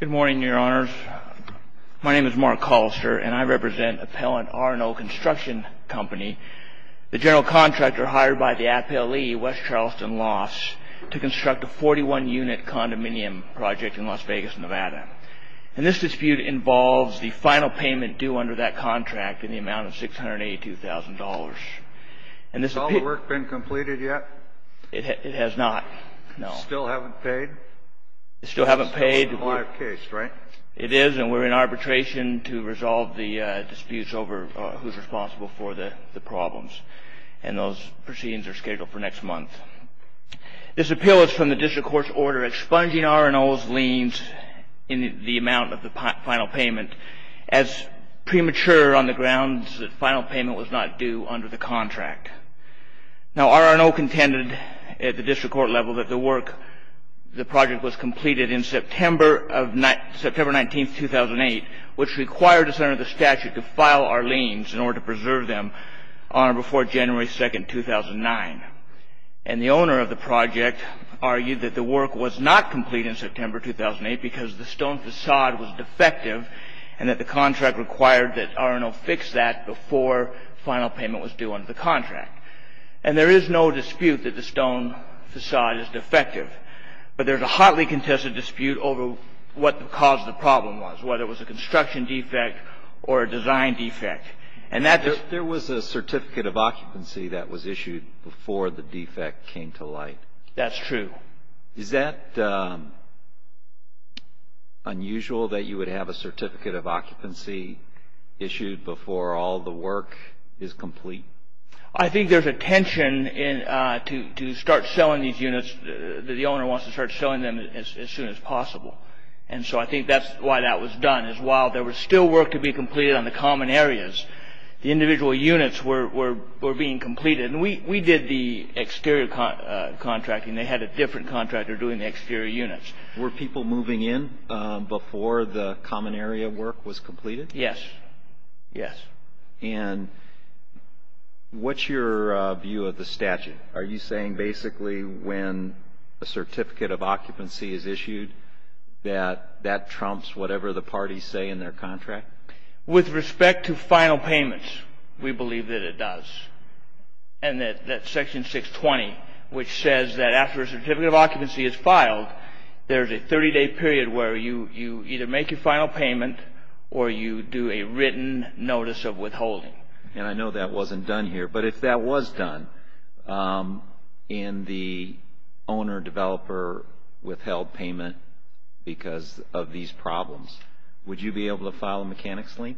Good morning, your honors. My name is Mark Hollister, and I represent Appellant R&O Construction Company. The general contractor hired by the Appellee, West Charleston Lofts, to construct a 41-unit condominium project in Las Vegas, Nevada. And this dispute involves the final payment due under that contract in the amount of $682,000. Has all the work been completed yet? It has not, no. Still haven't paid? Still haven't paid. It's a live case, right? It is, and we're in arbitration to resolve the disputes over who's responsible for the problems. And those proceedings are scheduled for next month. This appeal is from the district court's order expunging R&O's liens in the amount of the final payment as premature on the grounds that final payment was not due under the contract. Now, R&O contended at the district court level that the work, the project was completed in September 19, 2008, which required the center of the statute to file our liens in order to preserve them on or before January 2, 2009. And the owner of the project argued that the work was not complete in September 2008 because the stone facade was defective and that the contract required that R&O fix that before final payment was due under the contract. And there is no dispute that the stone facade is defective, but there's a hotly contested dispute over what the cause of the problem was, whether it was a construction defect or a design defect. There was a certificate of occupancy that was issued before the defect came to light. That's true. Is that unusual that you would have a certificate of occupancy issued before all the work is complete? I think there's a tension to start selling these units. The owner wants to start selling them as soon as possible. And so I think that's why that was done, is while there was still work to be completed on the common areas, the individual units were being completed. And we did the exterior contracting. They had a different contractor doing the exterior units. Were people moving in before the common area work was completed? Yes. Yes. And what's your view of the statute? Are you saying basically when a certificate of occupancy is issued that that trumps whatever the parties say in their contract? With respect to final payments, we believe that it does. And that Section 620, which says that after a certificate of occupancy is filed, there's a 30-day period where you either make your final payment or you do a written notice of withholding. And I know that wasn't done here, but if that was done and the owner or developer withheld payment because of these problems, would you be able to file a mechanics lien?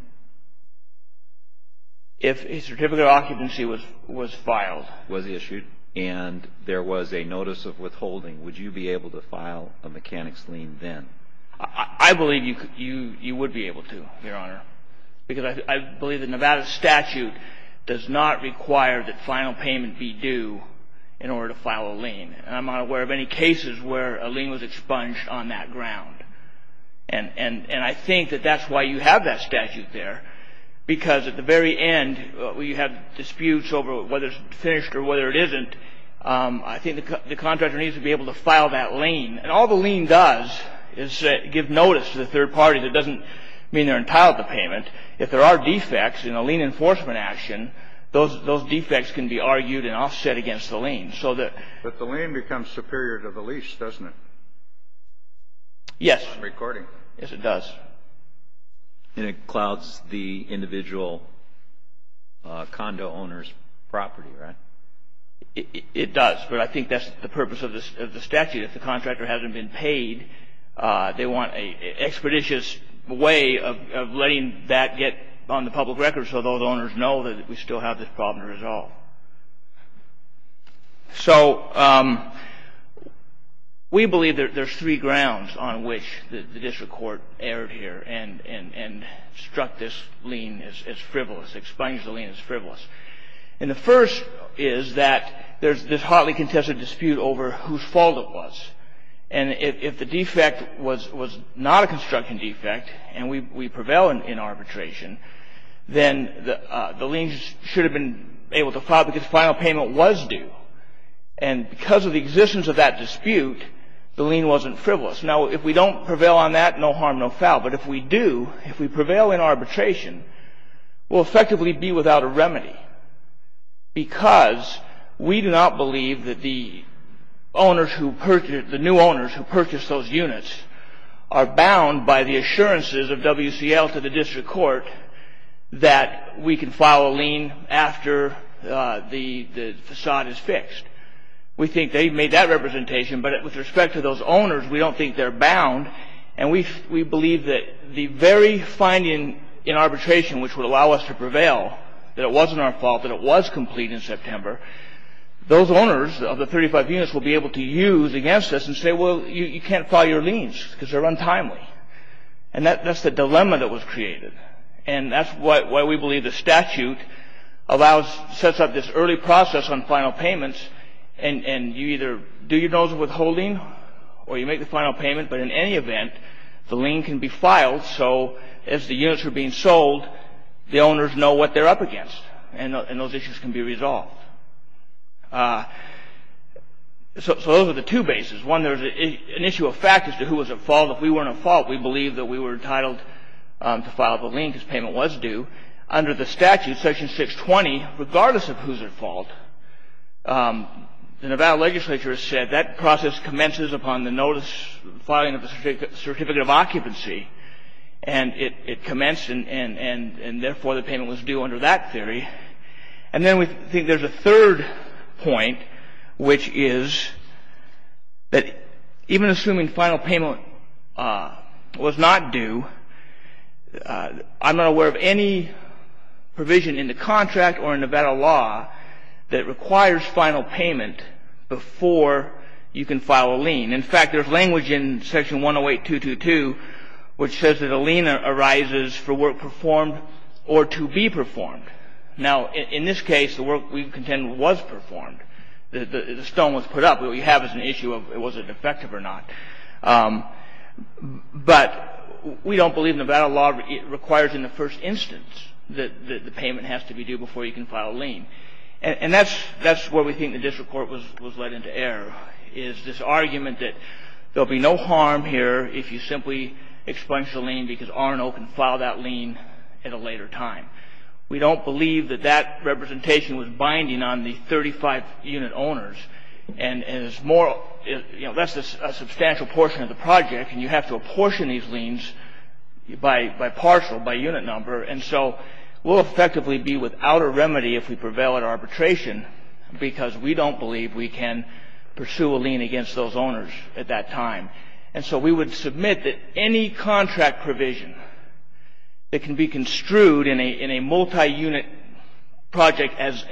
If a certificate of occupancy was filed. Was issued and there was a notice of withholding, would you be able to file a mechanics lien then? I believe you would be able to, Your Honor, because I believe the Nevada statute does not require that final payment be due in order to file a lien. And I'm not aware of any cases where a lien was expunged on that ground. And I think that that's why you have that statute there, because at the very end you have disputes over whether it's finished or whether it isn't. I think the contractor needs to be able to file that lien. And all the lien does is give notice to the third party that doesn't mean they're entitled to payment. If there are defects in a lien enforcement action, those defects can be argued and offset against the lien. But the lien becomes superior to the lease, doesn't it? Yes. Recording. Yes, it does. And it clouds the individual condo owner's property, right? It does. But I think that's the purpose of the statute. If the contractor hasn't been paid, they want an expeditious way of letting that get on the public record so those owners know that we still have this problem to resolve. So we believe there's three grounds on which the district court erred here and struck this lien as frivolous, expunged the lien as frivolous. And the first is that there's this hotly contested dispute over whose fault it was. And if the defect was not a construction defect and we prevail in arbitration, then the liens should have been able to file because final payment was due. And because of the existence of that dispute, the lien wasn't frivolous. Now, if we don't prevail on that, no harm, no foul. But if we do, if we prevail in arbitration, we'll effectively be without a remedy because we do not believe that the new owners who purchased those units are bound by the assurances of WCL to the district court that we can file a lien after the facade is fixed. We think they've made that representation. But with respect to those owners, we don't think they're bound. And we believe that the very finding in arbitration which would allow us to prevail, that it wasn't our fault, that it was complete in September, those owners of the 35 units will be able to use against us and say, well, you can't file your liens because they're untimely. And that's the dilemma that was created. And that's why we believe the statute allows, sets up this early process on final payments and you either do your dollars of withholding or you make the final payment. But in any event, the lien can be filed so as the units are being sold, the owners know what they're up against and those issues can be resolved. So those are the two bases. One, there's an issue of fact as to who was at fault. If we weren't at fault, we believe that we were entitled to file the lien because payment was due. Under the statute, section 620, regardless of who's at fault, the Nevada legislature has said that process commences upon the notice, filing of a certificate of occupancy and it commenced and therefore the payment was due under that theory. And then we think there's a third point, which is that even assuming final payment was not due, I'm not aware of any provision in the contract or in Nevada law that requires final payment before you can file a lien. In fact, there's language in section 108222 which says that a lien arises for work performed or to be performed. Now, in this case, the work we contend was performed. The stone was put up. What we have is an issue of was it effective or not. But we don't believe Nevada law requires in the first instance that the payment has to be due before you can file a lien. And that's where we think the district court was led into error, is this argument that there will be no harm here if you simply expunge the lien because R&O can file that lien at a later time. We don't believe that that representation was binding on the 35 unit owners. And it's more, you know, that's a substantial portion of the project and you have to apportion these liens by partial, by unit number. And so we'll effectively be without a remedy if we prevail at arbitration because we don't believe we can pursue a lien against those owners at that time. And so we would submit that any contract provision that can be construed in a multi-unit project as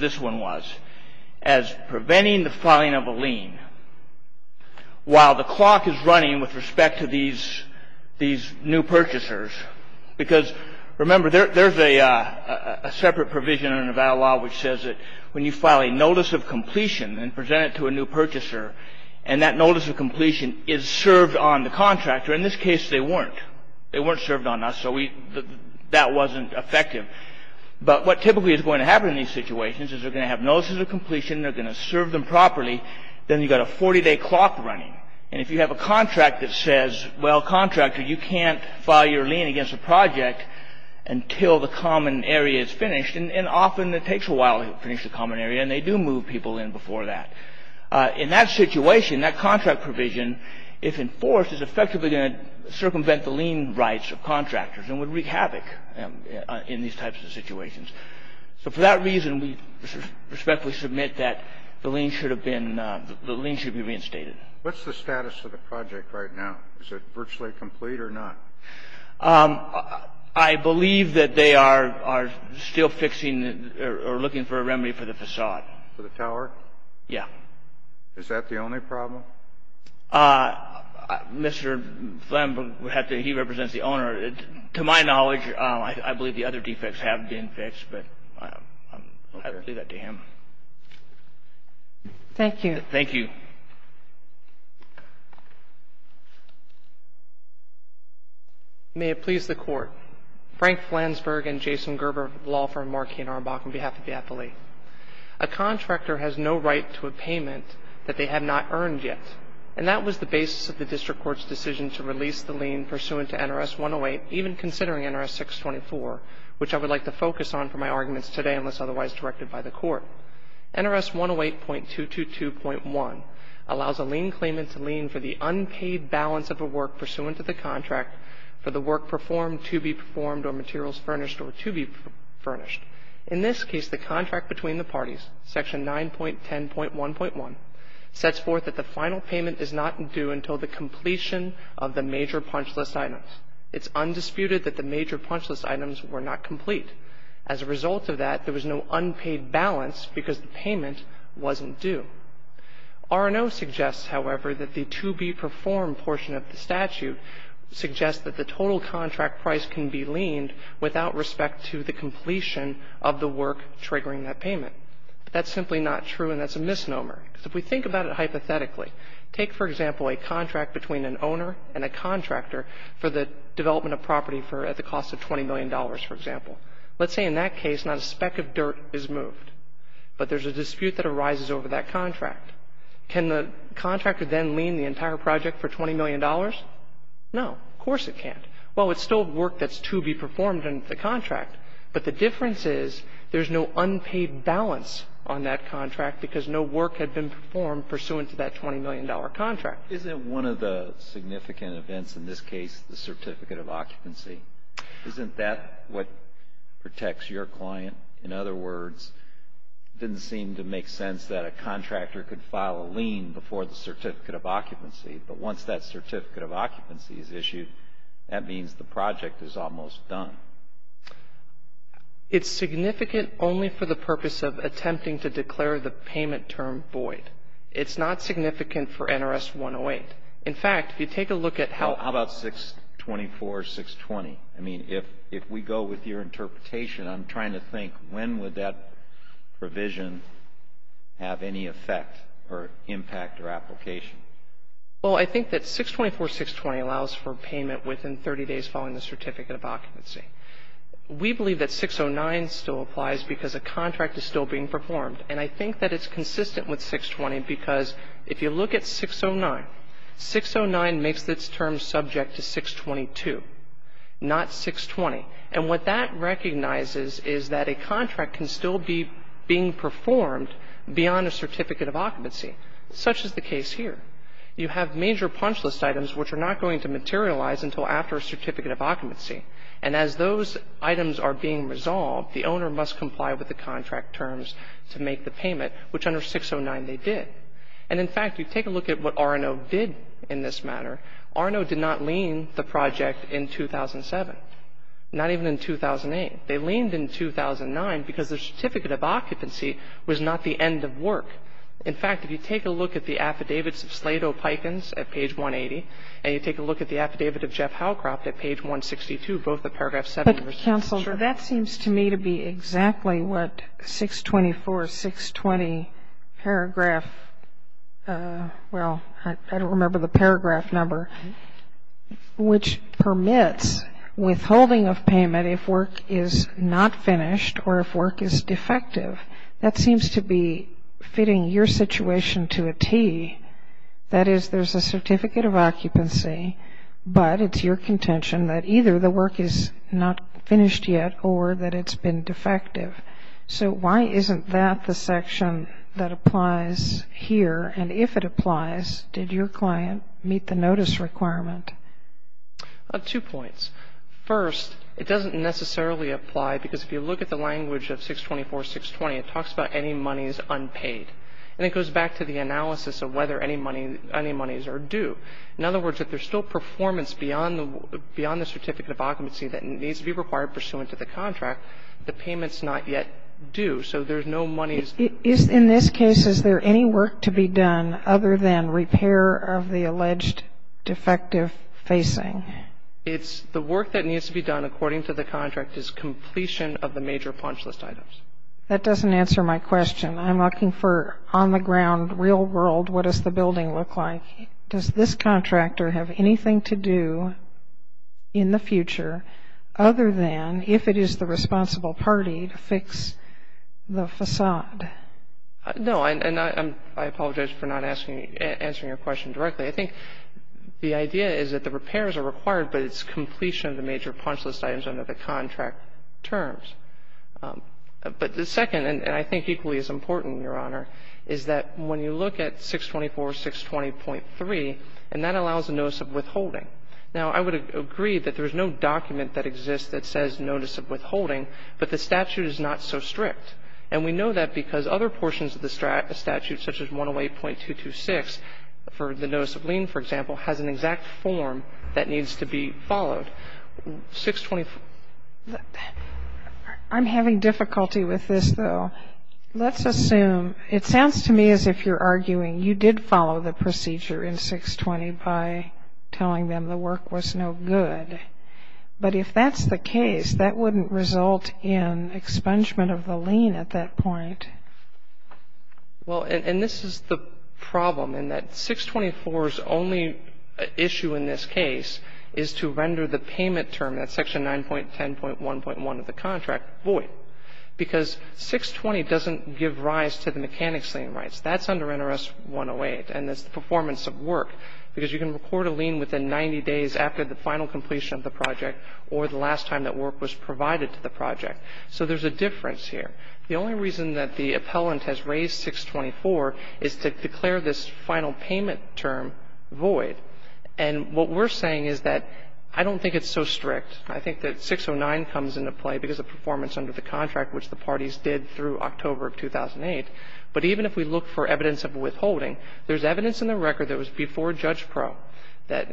this one was, as preventing the filing of a lien, while the clock is running with respect to these new purchasers, because remember there's a separate provision in Nevada law which says that when you file a notice of completion and present it to a new purchaser and that notice of completion is served on the contractor, in this case they weren't. They weren't served on us, so that wasn't effective. But what typically is going to happen in these situations is they're going to have notices of completion, they're going to serve them properly, then you've got a 40-day clock running. And if you have a contract that says, well, contractor, you can't file your lien against a project until the common area is finished, and often it takes a while to finish the common area, and they do move people in before that. In that situation, that contract provision, if enforced, is effectively going to circumvent the lien rights of contractors and would wreak havoc in these types of situations. So for that reason, we respectfully submit that the lien should have been reinstated. What's the status of the project right now? Is it virtually complete or not? I believe that they are still fixing or looking for a remedy for the façade. For the tower? Yeah. Is that the only problem? Mr. Flansburg, he represents the owner. To my knowledge, I believe the other defects have been fixed, but I'll leave that to him. Thank you. Thank you. May it please the Court. Frank Flansburg and Jason Gerber, law firm Marquee & Arbach, on behalf of the affiliate. A contractor has no right to a payment that they have not earned yet, and that was the basis of the district court's decision to release the lien pursuant to NRS 108, even considering NRS 624, which I would like to focus on for my arguments today unless otherwise directed by the Court. NRS 108.222.1 allows a lien claimant to lien for the unpaid balance of a work pursuant to the contract for the work performed to be performed or materials furnished or to be furnished. In this case, the contract between the parties, Section 9.10.1.1, sets forth that the final payment is not due until the completion of the major punch list items. It's undisputed that the major punch list items were not complete. As a result of that, there was no unpaid balance because the payment wasn't due. R&O suggests, however, that the to-be-performed portion of the statute suggests that the total contract price can be liened without respect to the completion of the work triggering that payment. That's simply not true, and that's a misnomer. Because if we think about it hypothetically, take, for example, a contract between an owner and a contractor for the development of property for at the cost of $20 million, for example. Let's say in that case not a speck of dirt is moved, but there's a dispute that arises over that contract. Can the contractor then lien the entire project for $20 million? No. Of course it can't. Well, it's still work that's to be performed in the contract, but the difference is there's no unpaid balance on that contract because no work had been performed pursuant to that $20 million contract. Isn't one of the significant events in this case the certificate of occupancy? Isn't that what protects your client? In other words, it didn't seem to make sense that a contractor could file a lien before the certificate of occupancy. But once that certificate of occupancy is issued, that means the project is almost done. It's significant only for the purpose of attempting to declare the payment term void. It's not significant for NRS 108. In fact, if you take a look at how... How about 624, 620? I mean, if we go with your interpretation, I'm trying to think when would that provision have any effect or impact or application? Well, I think that 624, 620 allows for payment within 30 days following the certificate of occupancy. We believe that 609 still applies because a contract is still being performed. And I think that it's consistent with 620 because if you look at 609, 609 makes its term subject to 622, not 620. And what that recognizes is that a contract can still be being performed beyond a certificate of occupancy. Such is the case here. You have major punch list items which are not going to materialize until after a certificate of occupancy. And as those items are being resolved, the owner must comply with the contract terms to make the payment, which under 609 they did. And in fact, you take a look at what Arno did in this matter. Arno did not lien the project in 2007. Not even in 2008. They liened in 2009 because the certificate of occupancy was not the end of work. In fact, if you take a look at the affidavits of Slade O'Pikins at page 180 and you take a look at the affidavit of Jeff Howcroft at page 162, both of paragraph 7. Sotomayor, that seems to me to be exactly what 624, 620 paragraph, well, I don't remember the paragraph number, which permits withholding of payment if work is not finished or if work is defective. That seems to be fitting your situation to a T. That is, there's a certificate of occupancy, but it's your contention that either the work is not finished yet or that it's been defective. So why isn't that the section that applies here? And if it applies, did your client meet the notice requirement? Two points. First, it doesn't necessarily apply because if you look at the language of 624, 620, it talks about any monies unpaid. And it goes back to the analysis of whether any monies are due. In other words, if there's still performance beyond the certificate of occupancy that needs to be required pursuant to the contract, the payment's not yet due. So there's no monies. In this case, is there any work to be done other than repair of the alleged defective facing? The work that needs to be done according to the contract is completion of the major punch list items. That doesn't answer my question. I'm looking for on the ground, real world, what does the building look like? Does this contractor have anything to do in the future other than if it is the responsible party to fix the facade? No. And I apologize for not asking, answering your question directly. I think the idea is that the repairs are required, but it's completion of the major punch list items under the contract terms. But the second, and I think equally as important, Your Honor, is that when you look at 624, 620.3, and that allows a notice of withholding. Now, I would agree that there is no document that exists that says notice of withholding, but the statute is not so strict. And we know that because other portions of the statute, such as 108.226 for the notice of lien, for example, has an exact form that needs to be followed. 620. I'm having difficulty with this, though. Let's assume, it sounds to me as if you're arguing you did follow the procedure in 620 by telling them the work was no good. But if that's the case, that wouldn't result in expungement of the lien at that point. Well, and this is the problem in that 624's only issue in this case is to render the payment term, that's section 9.10.1.1 of the contract, void. Because 620 doesn't give rise to the mechanics lien rights. That's under NRS 108, and it's the performance of work. Because you can record a lien within 90 days after the final completion of the project or the last time that work was provided to the project. So there's a difference here. The only reason that the appellant has raised 624 is to declare this final payment term void. And what we're saying is that I don't think it's so strict. I think that 609 comes into play because of performance under the contract, which the parties did through October of 2008. But even if we look for evidence of withholding, there's evidence in the record that was before Judge Pro that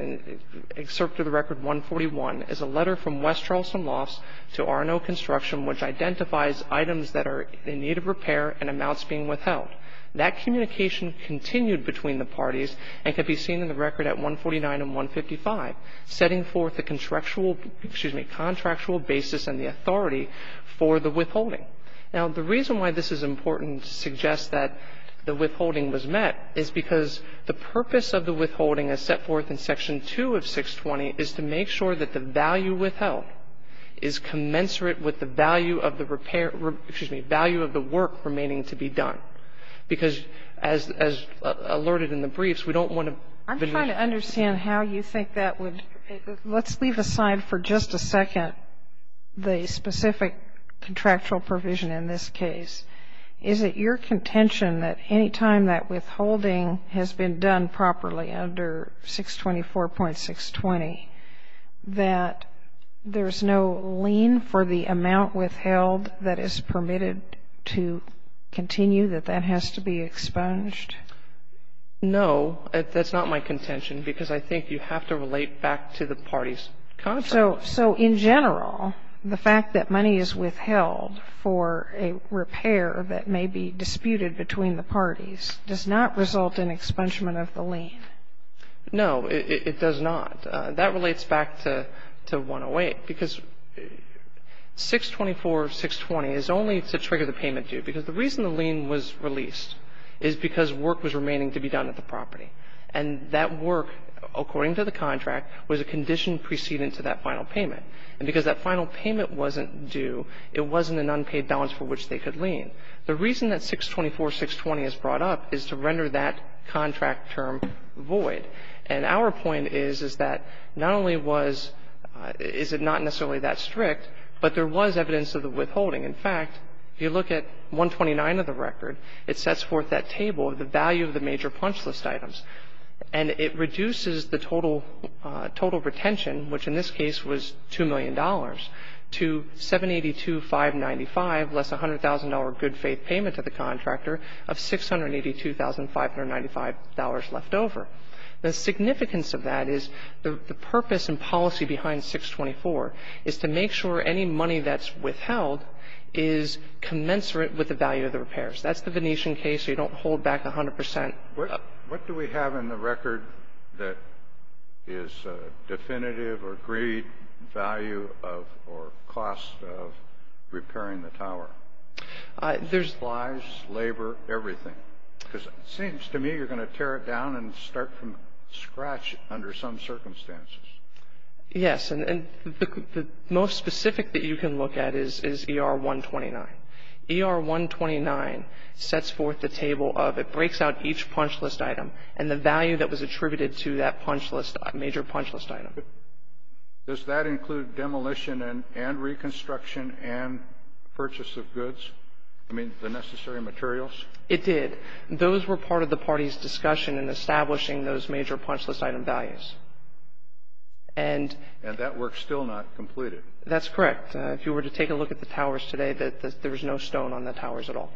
excerpt of the record 141 is a letter from West Charleston Lofts to R&O Construction, which identifies items that are in need of repair and amounts being withheld. That communication continued between the parties and can be seen in the record at 149 and 155, setting forth the contractual basis and the authority for the withholding. Now, the reason why this is important to suggest that the withholding was met is because the purpose of the withholding as set forth in Section 2 of 620 is to make sure that the value withheld is commensurate with the value of the repair ‑‑ excuse me, value of the work remaining to be done. Because as alerted in the briefs, we don't want to ‑‑ I'm trying to understand how you think that would ‑‑ let's leave aside for just a second the specific contractual provision in this case. Is it your contention that any time that withholding has been done properly under 624.620, that there's no lien for the amount withheld that is permitted to continue, that that has to be expunged? No, that's not my contention, because I think you have to relate back to the party's contract. So in general, the fact that money is withheld for a repair that may be disputed between the parties does not result in expungement of the lien? No, it does not. That relates back to 108, because 624.620 is only to trigger the payment due, because the reason the lien was released is because work was remaining to be done at the property. And that work, according to the contract, was a condition precedent to that final payment. And because that final payment wasn't due, it wasn't an unpaid balance for which they could lien. The reason that 624.620 is brought up is to render that contract term void. And our point is, is that not only was ‑‑ is it not necessarily that strict, but there was evidence of the withholding. In fact, if you look at 129 of the record, it sets forth that table of the value of the major punch list items. And it reduces the total ‑‑ total retention, which in this case was $2 million, to 782,595, less a $100,000 good faith payment to the contractor, of $682,595 left over. The significance of that is the purpose and policy behind 624 is to make sure any money that's withheld is commensurate with the value of the repairs. That's the Venetian case. You don't hold back 100%. What do we have in the record that is definitive or agreed value of or cost of repairing the tower? There's ‑‑ Lives, labor, everything. Because it seems to me you're going to tear it down and start from scratch under some circumstances. Yes. And the most specific that you can look at is ER129. ER129 sets forth the table of ‑‑ it breaks out each punch list item and the value that was attributed to that punch list ‑‑ major punch list item. Does that include demolition and reconstruction and purchase of goods? I mean, the necessary materials? It did. Those were part of the party's discussion in establishing those major punch list item values. And ‑‑ And that work's still not completed. That's correct. If you were to take a look at the towers today, there was no stone on the towers at all.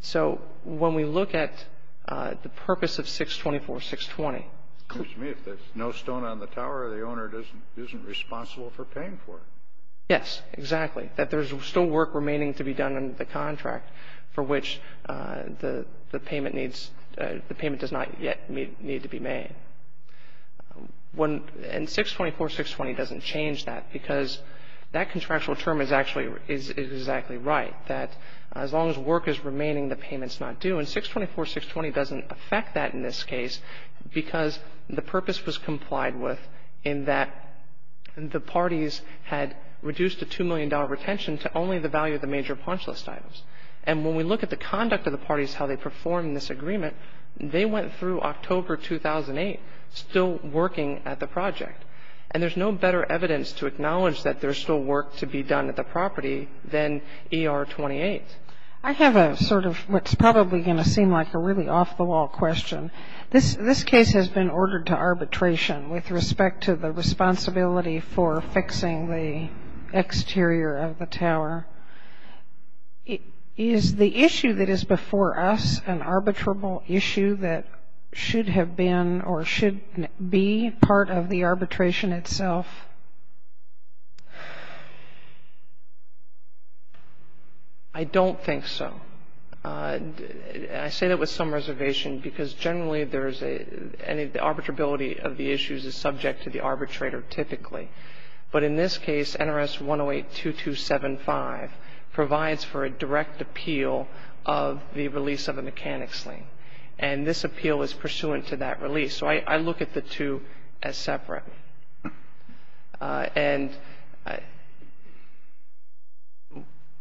So when we look at the purpose of 624.620 ‑‑ It seems to me if there's no stone on the tower, the owner isn't responsible for paying for it. Yes, exactly. That there's still work remaining to be done under the contract for which the payment needs ‑‑ the payment does not yet need to be made. And 624.620 doesn't change that because that contractual term is actually ‑‑ is exactly right, that as long as work is remaining, the payment's not due. And 624.620 doesn't affect that in this case because the purpose was complied with in that the parties had reduced the $2 million retention to only the value of the major punch list items. And when we look at the conduct of the parties, how they performed in this agreement, they went through October 2008 still working at the project. And there's no better evidence to acknowledge that there's still work to be done at the property than ER 28. I have a sort of what's probably going to seem like a really off‑the‑wall question. This case has been ordered to arbitration with respect to the responsibility for fixing the exterior of the tower. Is the issue that is before us an arbitrable issue that should have been or should be part of the arbitration itself? I don't think so. I say that with some reservation because generally there is a ‑‑ the arbitrability of the issues is subject to the arbitrator typically. But in this case, NRS 108.2275 provides for a direct appeal of the release of a mechanics lien. And this appeal is pursuant to that release. So I look at the two as separate. And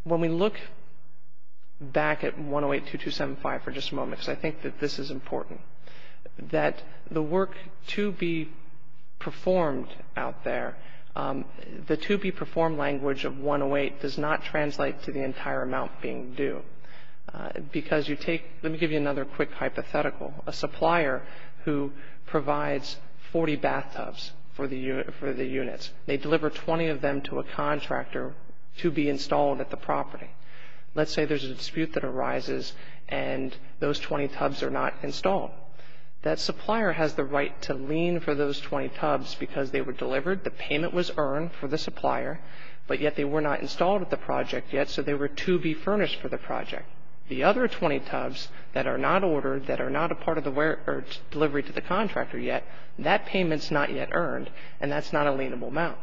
when we look back at 108.2275 for just a moment, because I think that this is important, that the work to be performed out there, the to be performed language of 108 does not translate to the entire amount being due. Because you take ‑‑ let me give you another quick hypothetical. A supplier who provides 40 bathtubs for the units, they deliver 20 of them to a contractor to be installed at the property. Let's say there's a dispute that arises and those 20 tubs are not installed. That supplier has the right to lien for those 20 tubs because they were delivered, the payment was earned for the supplier, but yet they were not installed at the project yet, so they were to be furnished for the project. The other 20 tubs that are not ordered, that are not a part of the delivery to the contractor yet, that payment is not yet earned, and that's not a lienable amount.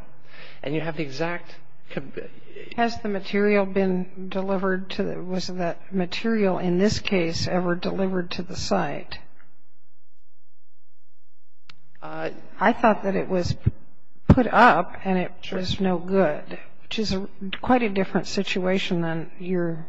And you have the exact ‑‑ Has the material been delivered to the ‑‑ was that material in this case ever delivered to the site? I thought that it was put up and it was no good, which is quite a different situation than your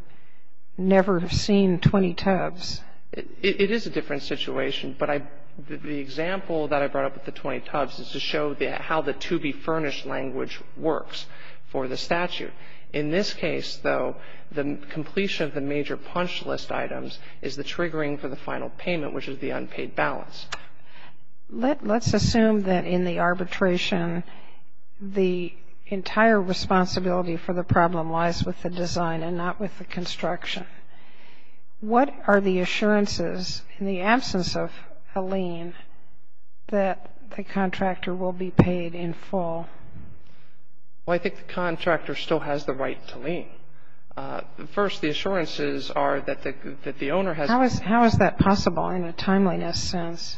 never seen 20 tubs. It is a different situation, but the example that I brought up with the 20 tubs is to show how the to be furnished language works for the statute. In this case, though, the completion of the major punch list items is the triggering for the final payment, which is the unpaid balance. Let's assume that in the arbitration, the entire responsibility for the problem lies with the design and not with the construction. What are the assurances in the absence of a lien that the contractor will be paid in full? Well, I think the contractor still has the right to lien. First, the assurances are that the owner has ‑‑ How is that possible in a timeliness sense?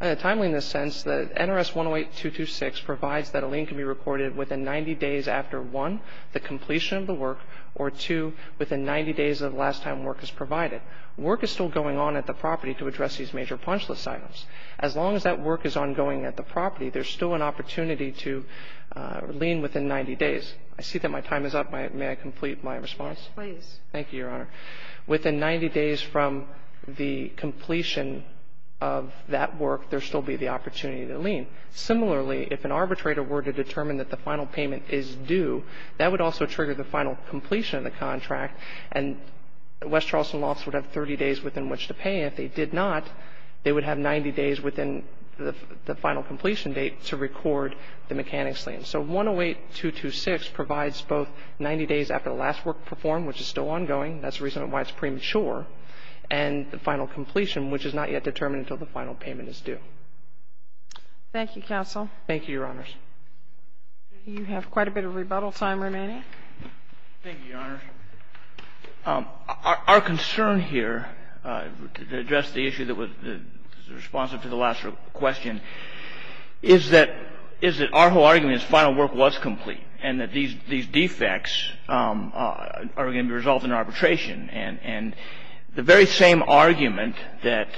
In a timeliness sense, the NRS 108226 provides that a lien can be recorded within 90 days after, one, the completion of the work, or two, within 90 days of the last time work is provided. Work is still going on at the property to address these major punch list items. As long as that work is ongoing at the property, there's still an opportunity to lien within 90 days. I see that my time is up. May I complete my response? Yes, please. Thank you, Your Honor. Within 90 days from the completion of that work, there will still be the opportunity to lien. Similarly, if an arbitrator were to determine that the final payment is due, that would also trigger the final completion of the contract, and West Charleston would have 30 days within which to pay. If they did not, they would have 90 days within the final completion date to record the mechanics lien. So 108226 provides both 90 days after the last work performed, which is still ongoing, that's the reason why it's premature, and the final completion, which is not yet determined until the final payment is due. Thank you, counsel. Thank you, Your Honors. Thank you, Your Honors. Our concern here, to address the issue that was responsive to the last question, is that our whole argument is final work was complete, and that these defects are going to be resolved in arbitration. And the very same argument that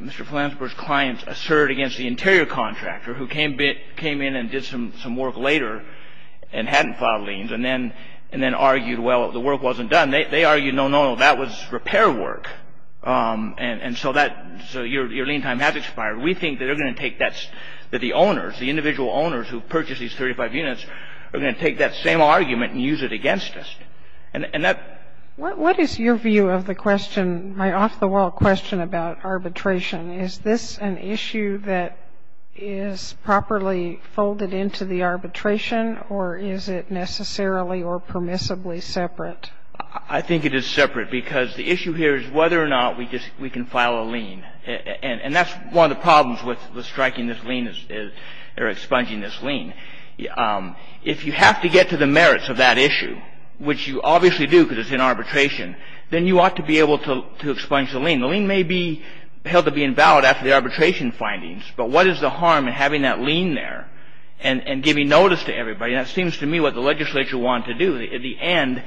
Mr. Flansburg's clients asserted against the interior contractor, who came in and did some work later and hadn't filed liens, and then argued, well, the work wasn't done, they argued, no, no, no, that was repair work, and so your lien time has expired. We think that the owners, the individual owners who purchased these 35 units, are going to take that same argument and use it against us. What is your view of the question, my off-the-wall question about arbitration? Is this an issue that is properly folded into the arbitration, or is it necessarily or permissibly separate? I think it is separate, because the issue here is whether or not we can file a lien. And that's one of the problems with striking this lien, or expunging this lien. If you have to get to the merits of that issue, which you obviously do because it's in arbitration, then you ought to be able to expunge the lien. The lien may be held to be invalid after the arbitration findings, but what is the harm in having that lien there and giving notice to everybody? And that seems to me what the legislature wanted to do. At the end,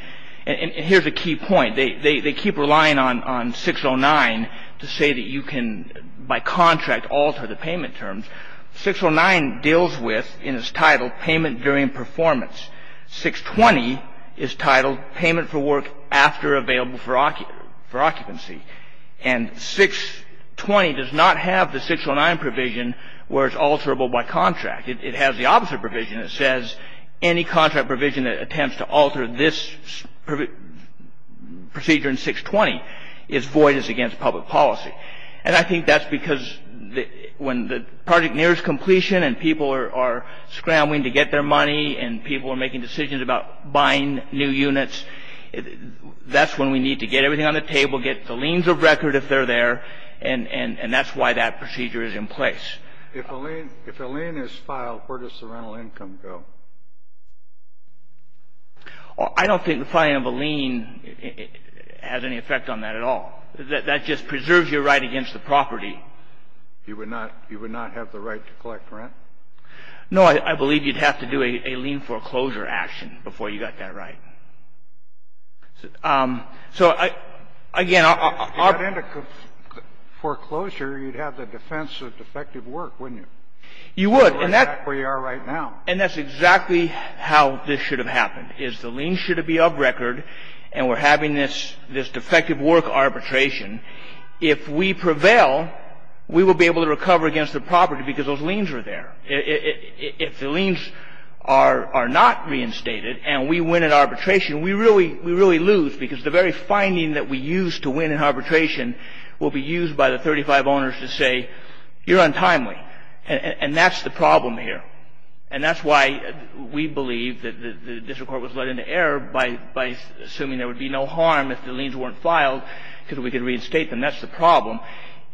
and here's a key point, they keep relying on 609 to say that you can, by contract, alter the payment terms. 609 deals with, and is titled, payment during performance. 620 is titled payment for work after available for occupancy. And 620 does not have the 609 provision where it's alterable by contract. It has the opposite provision. It says any contract provision that attempts to alter this procedure in 620 is void as against public policy. And I think that's because when the project nears completion and people are scrambling to get their money and people are making decisions about buying new units, that's when we need to get everything on the table, get the liens of record if they're there, and that's why that procedure is in place. If a lien is filed, where does the rental income go? I don't think the filing of a lien has any effect on that at all. That just preserves your right against the property. You would not have the right to collect rent? No. I believe you'd have to do a lien foreclosure action before you got that right. So, again, I'll ---- If you got into foreclosure, you'd have the defense of defective work, wouldn't you? You would. And that's where you are right now. And that's exactly how this should have happened, is the lien should be of record and we're having this defective work arbitration. If we prevail, we will be able to recover against the property because those liens are there. If the liens are not reinstated and we win at arbitration, we really lose because the very finding that we used to win at arbitration will be used by the 35 owners to say, you're untimely. And that's the problem here. And that's why we believe that the district court was led into error by assuming there would be no harm if the liens weren't filed because we could reinstate them. That's the problem.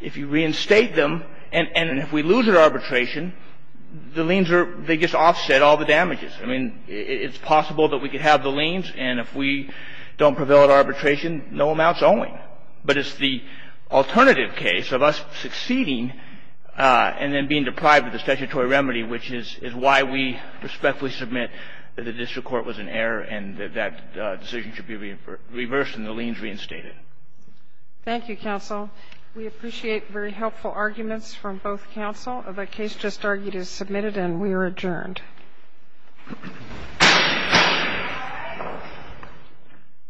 If you reinstate them, and if we lose at arbitration, the liens are ---- they just offset all the damages. I mean, it's possible that we could have the liens, and if we don't prevail at arbitration, no amount's owing. But it's the alternative case of us succeeding and then being deprived of the statutory remedy, which is why we respectfully submit that the district court was in error and that that decision should be reversed and the liens reinstated. Thank you, counsel. We appreciate very helpful arguments from both counsel. The case just argued is submitted and we are adjourned.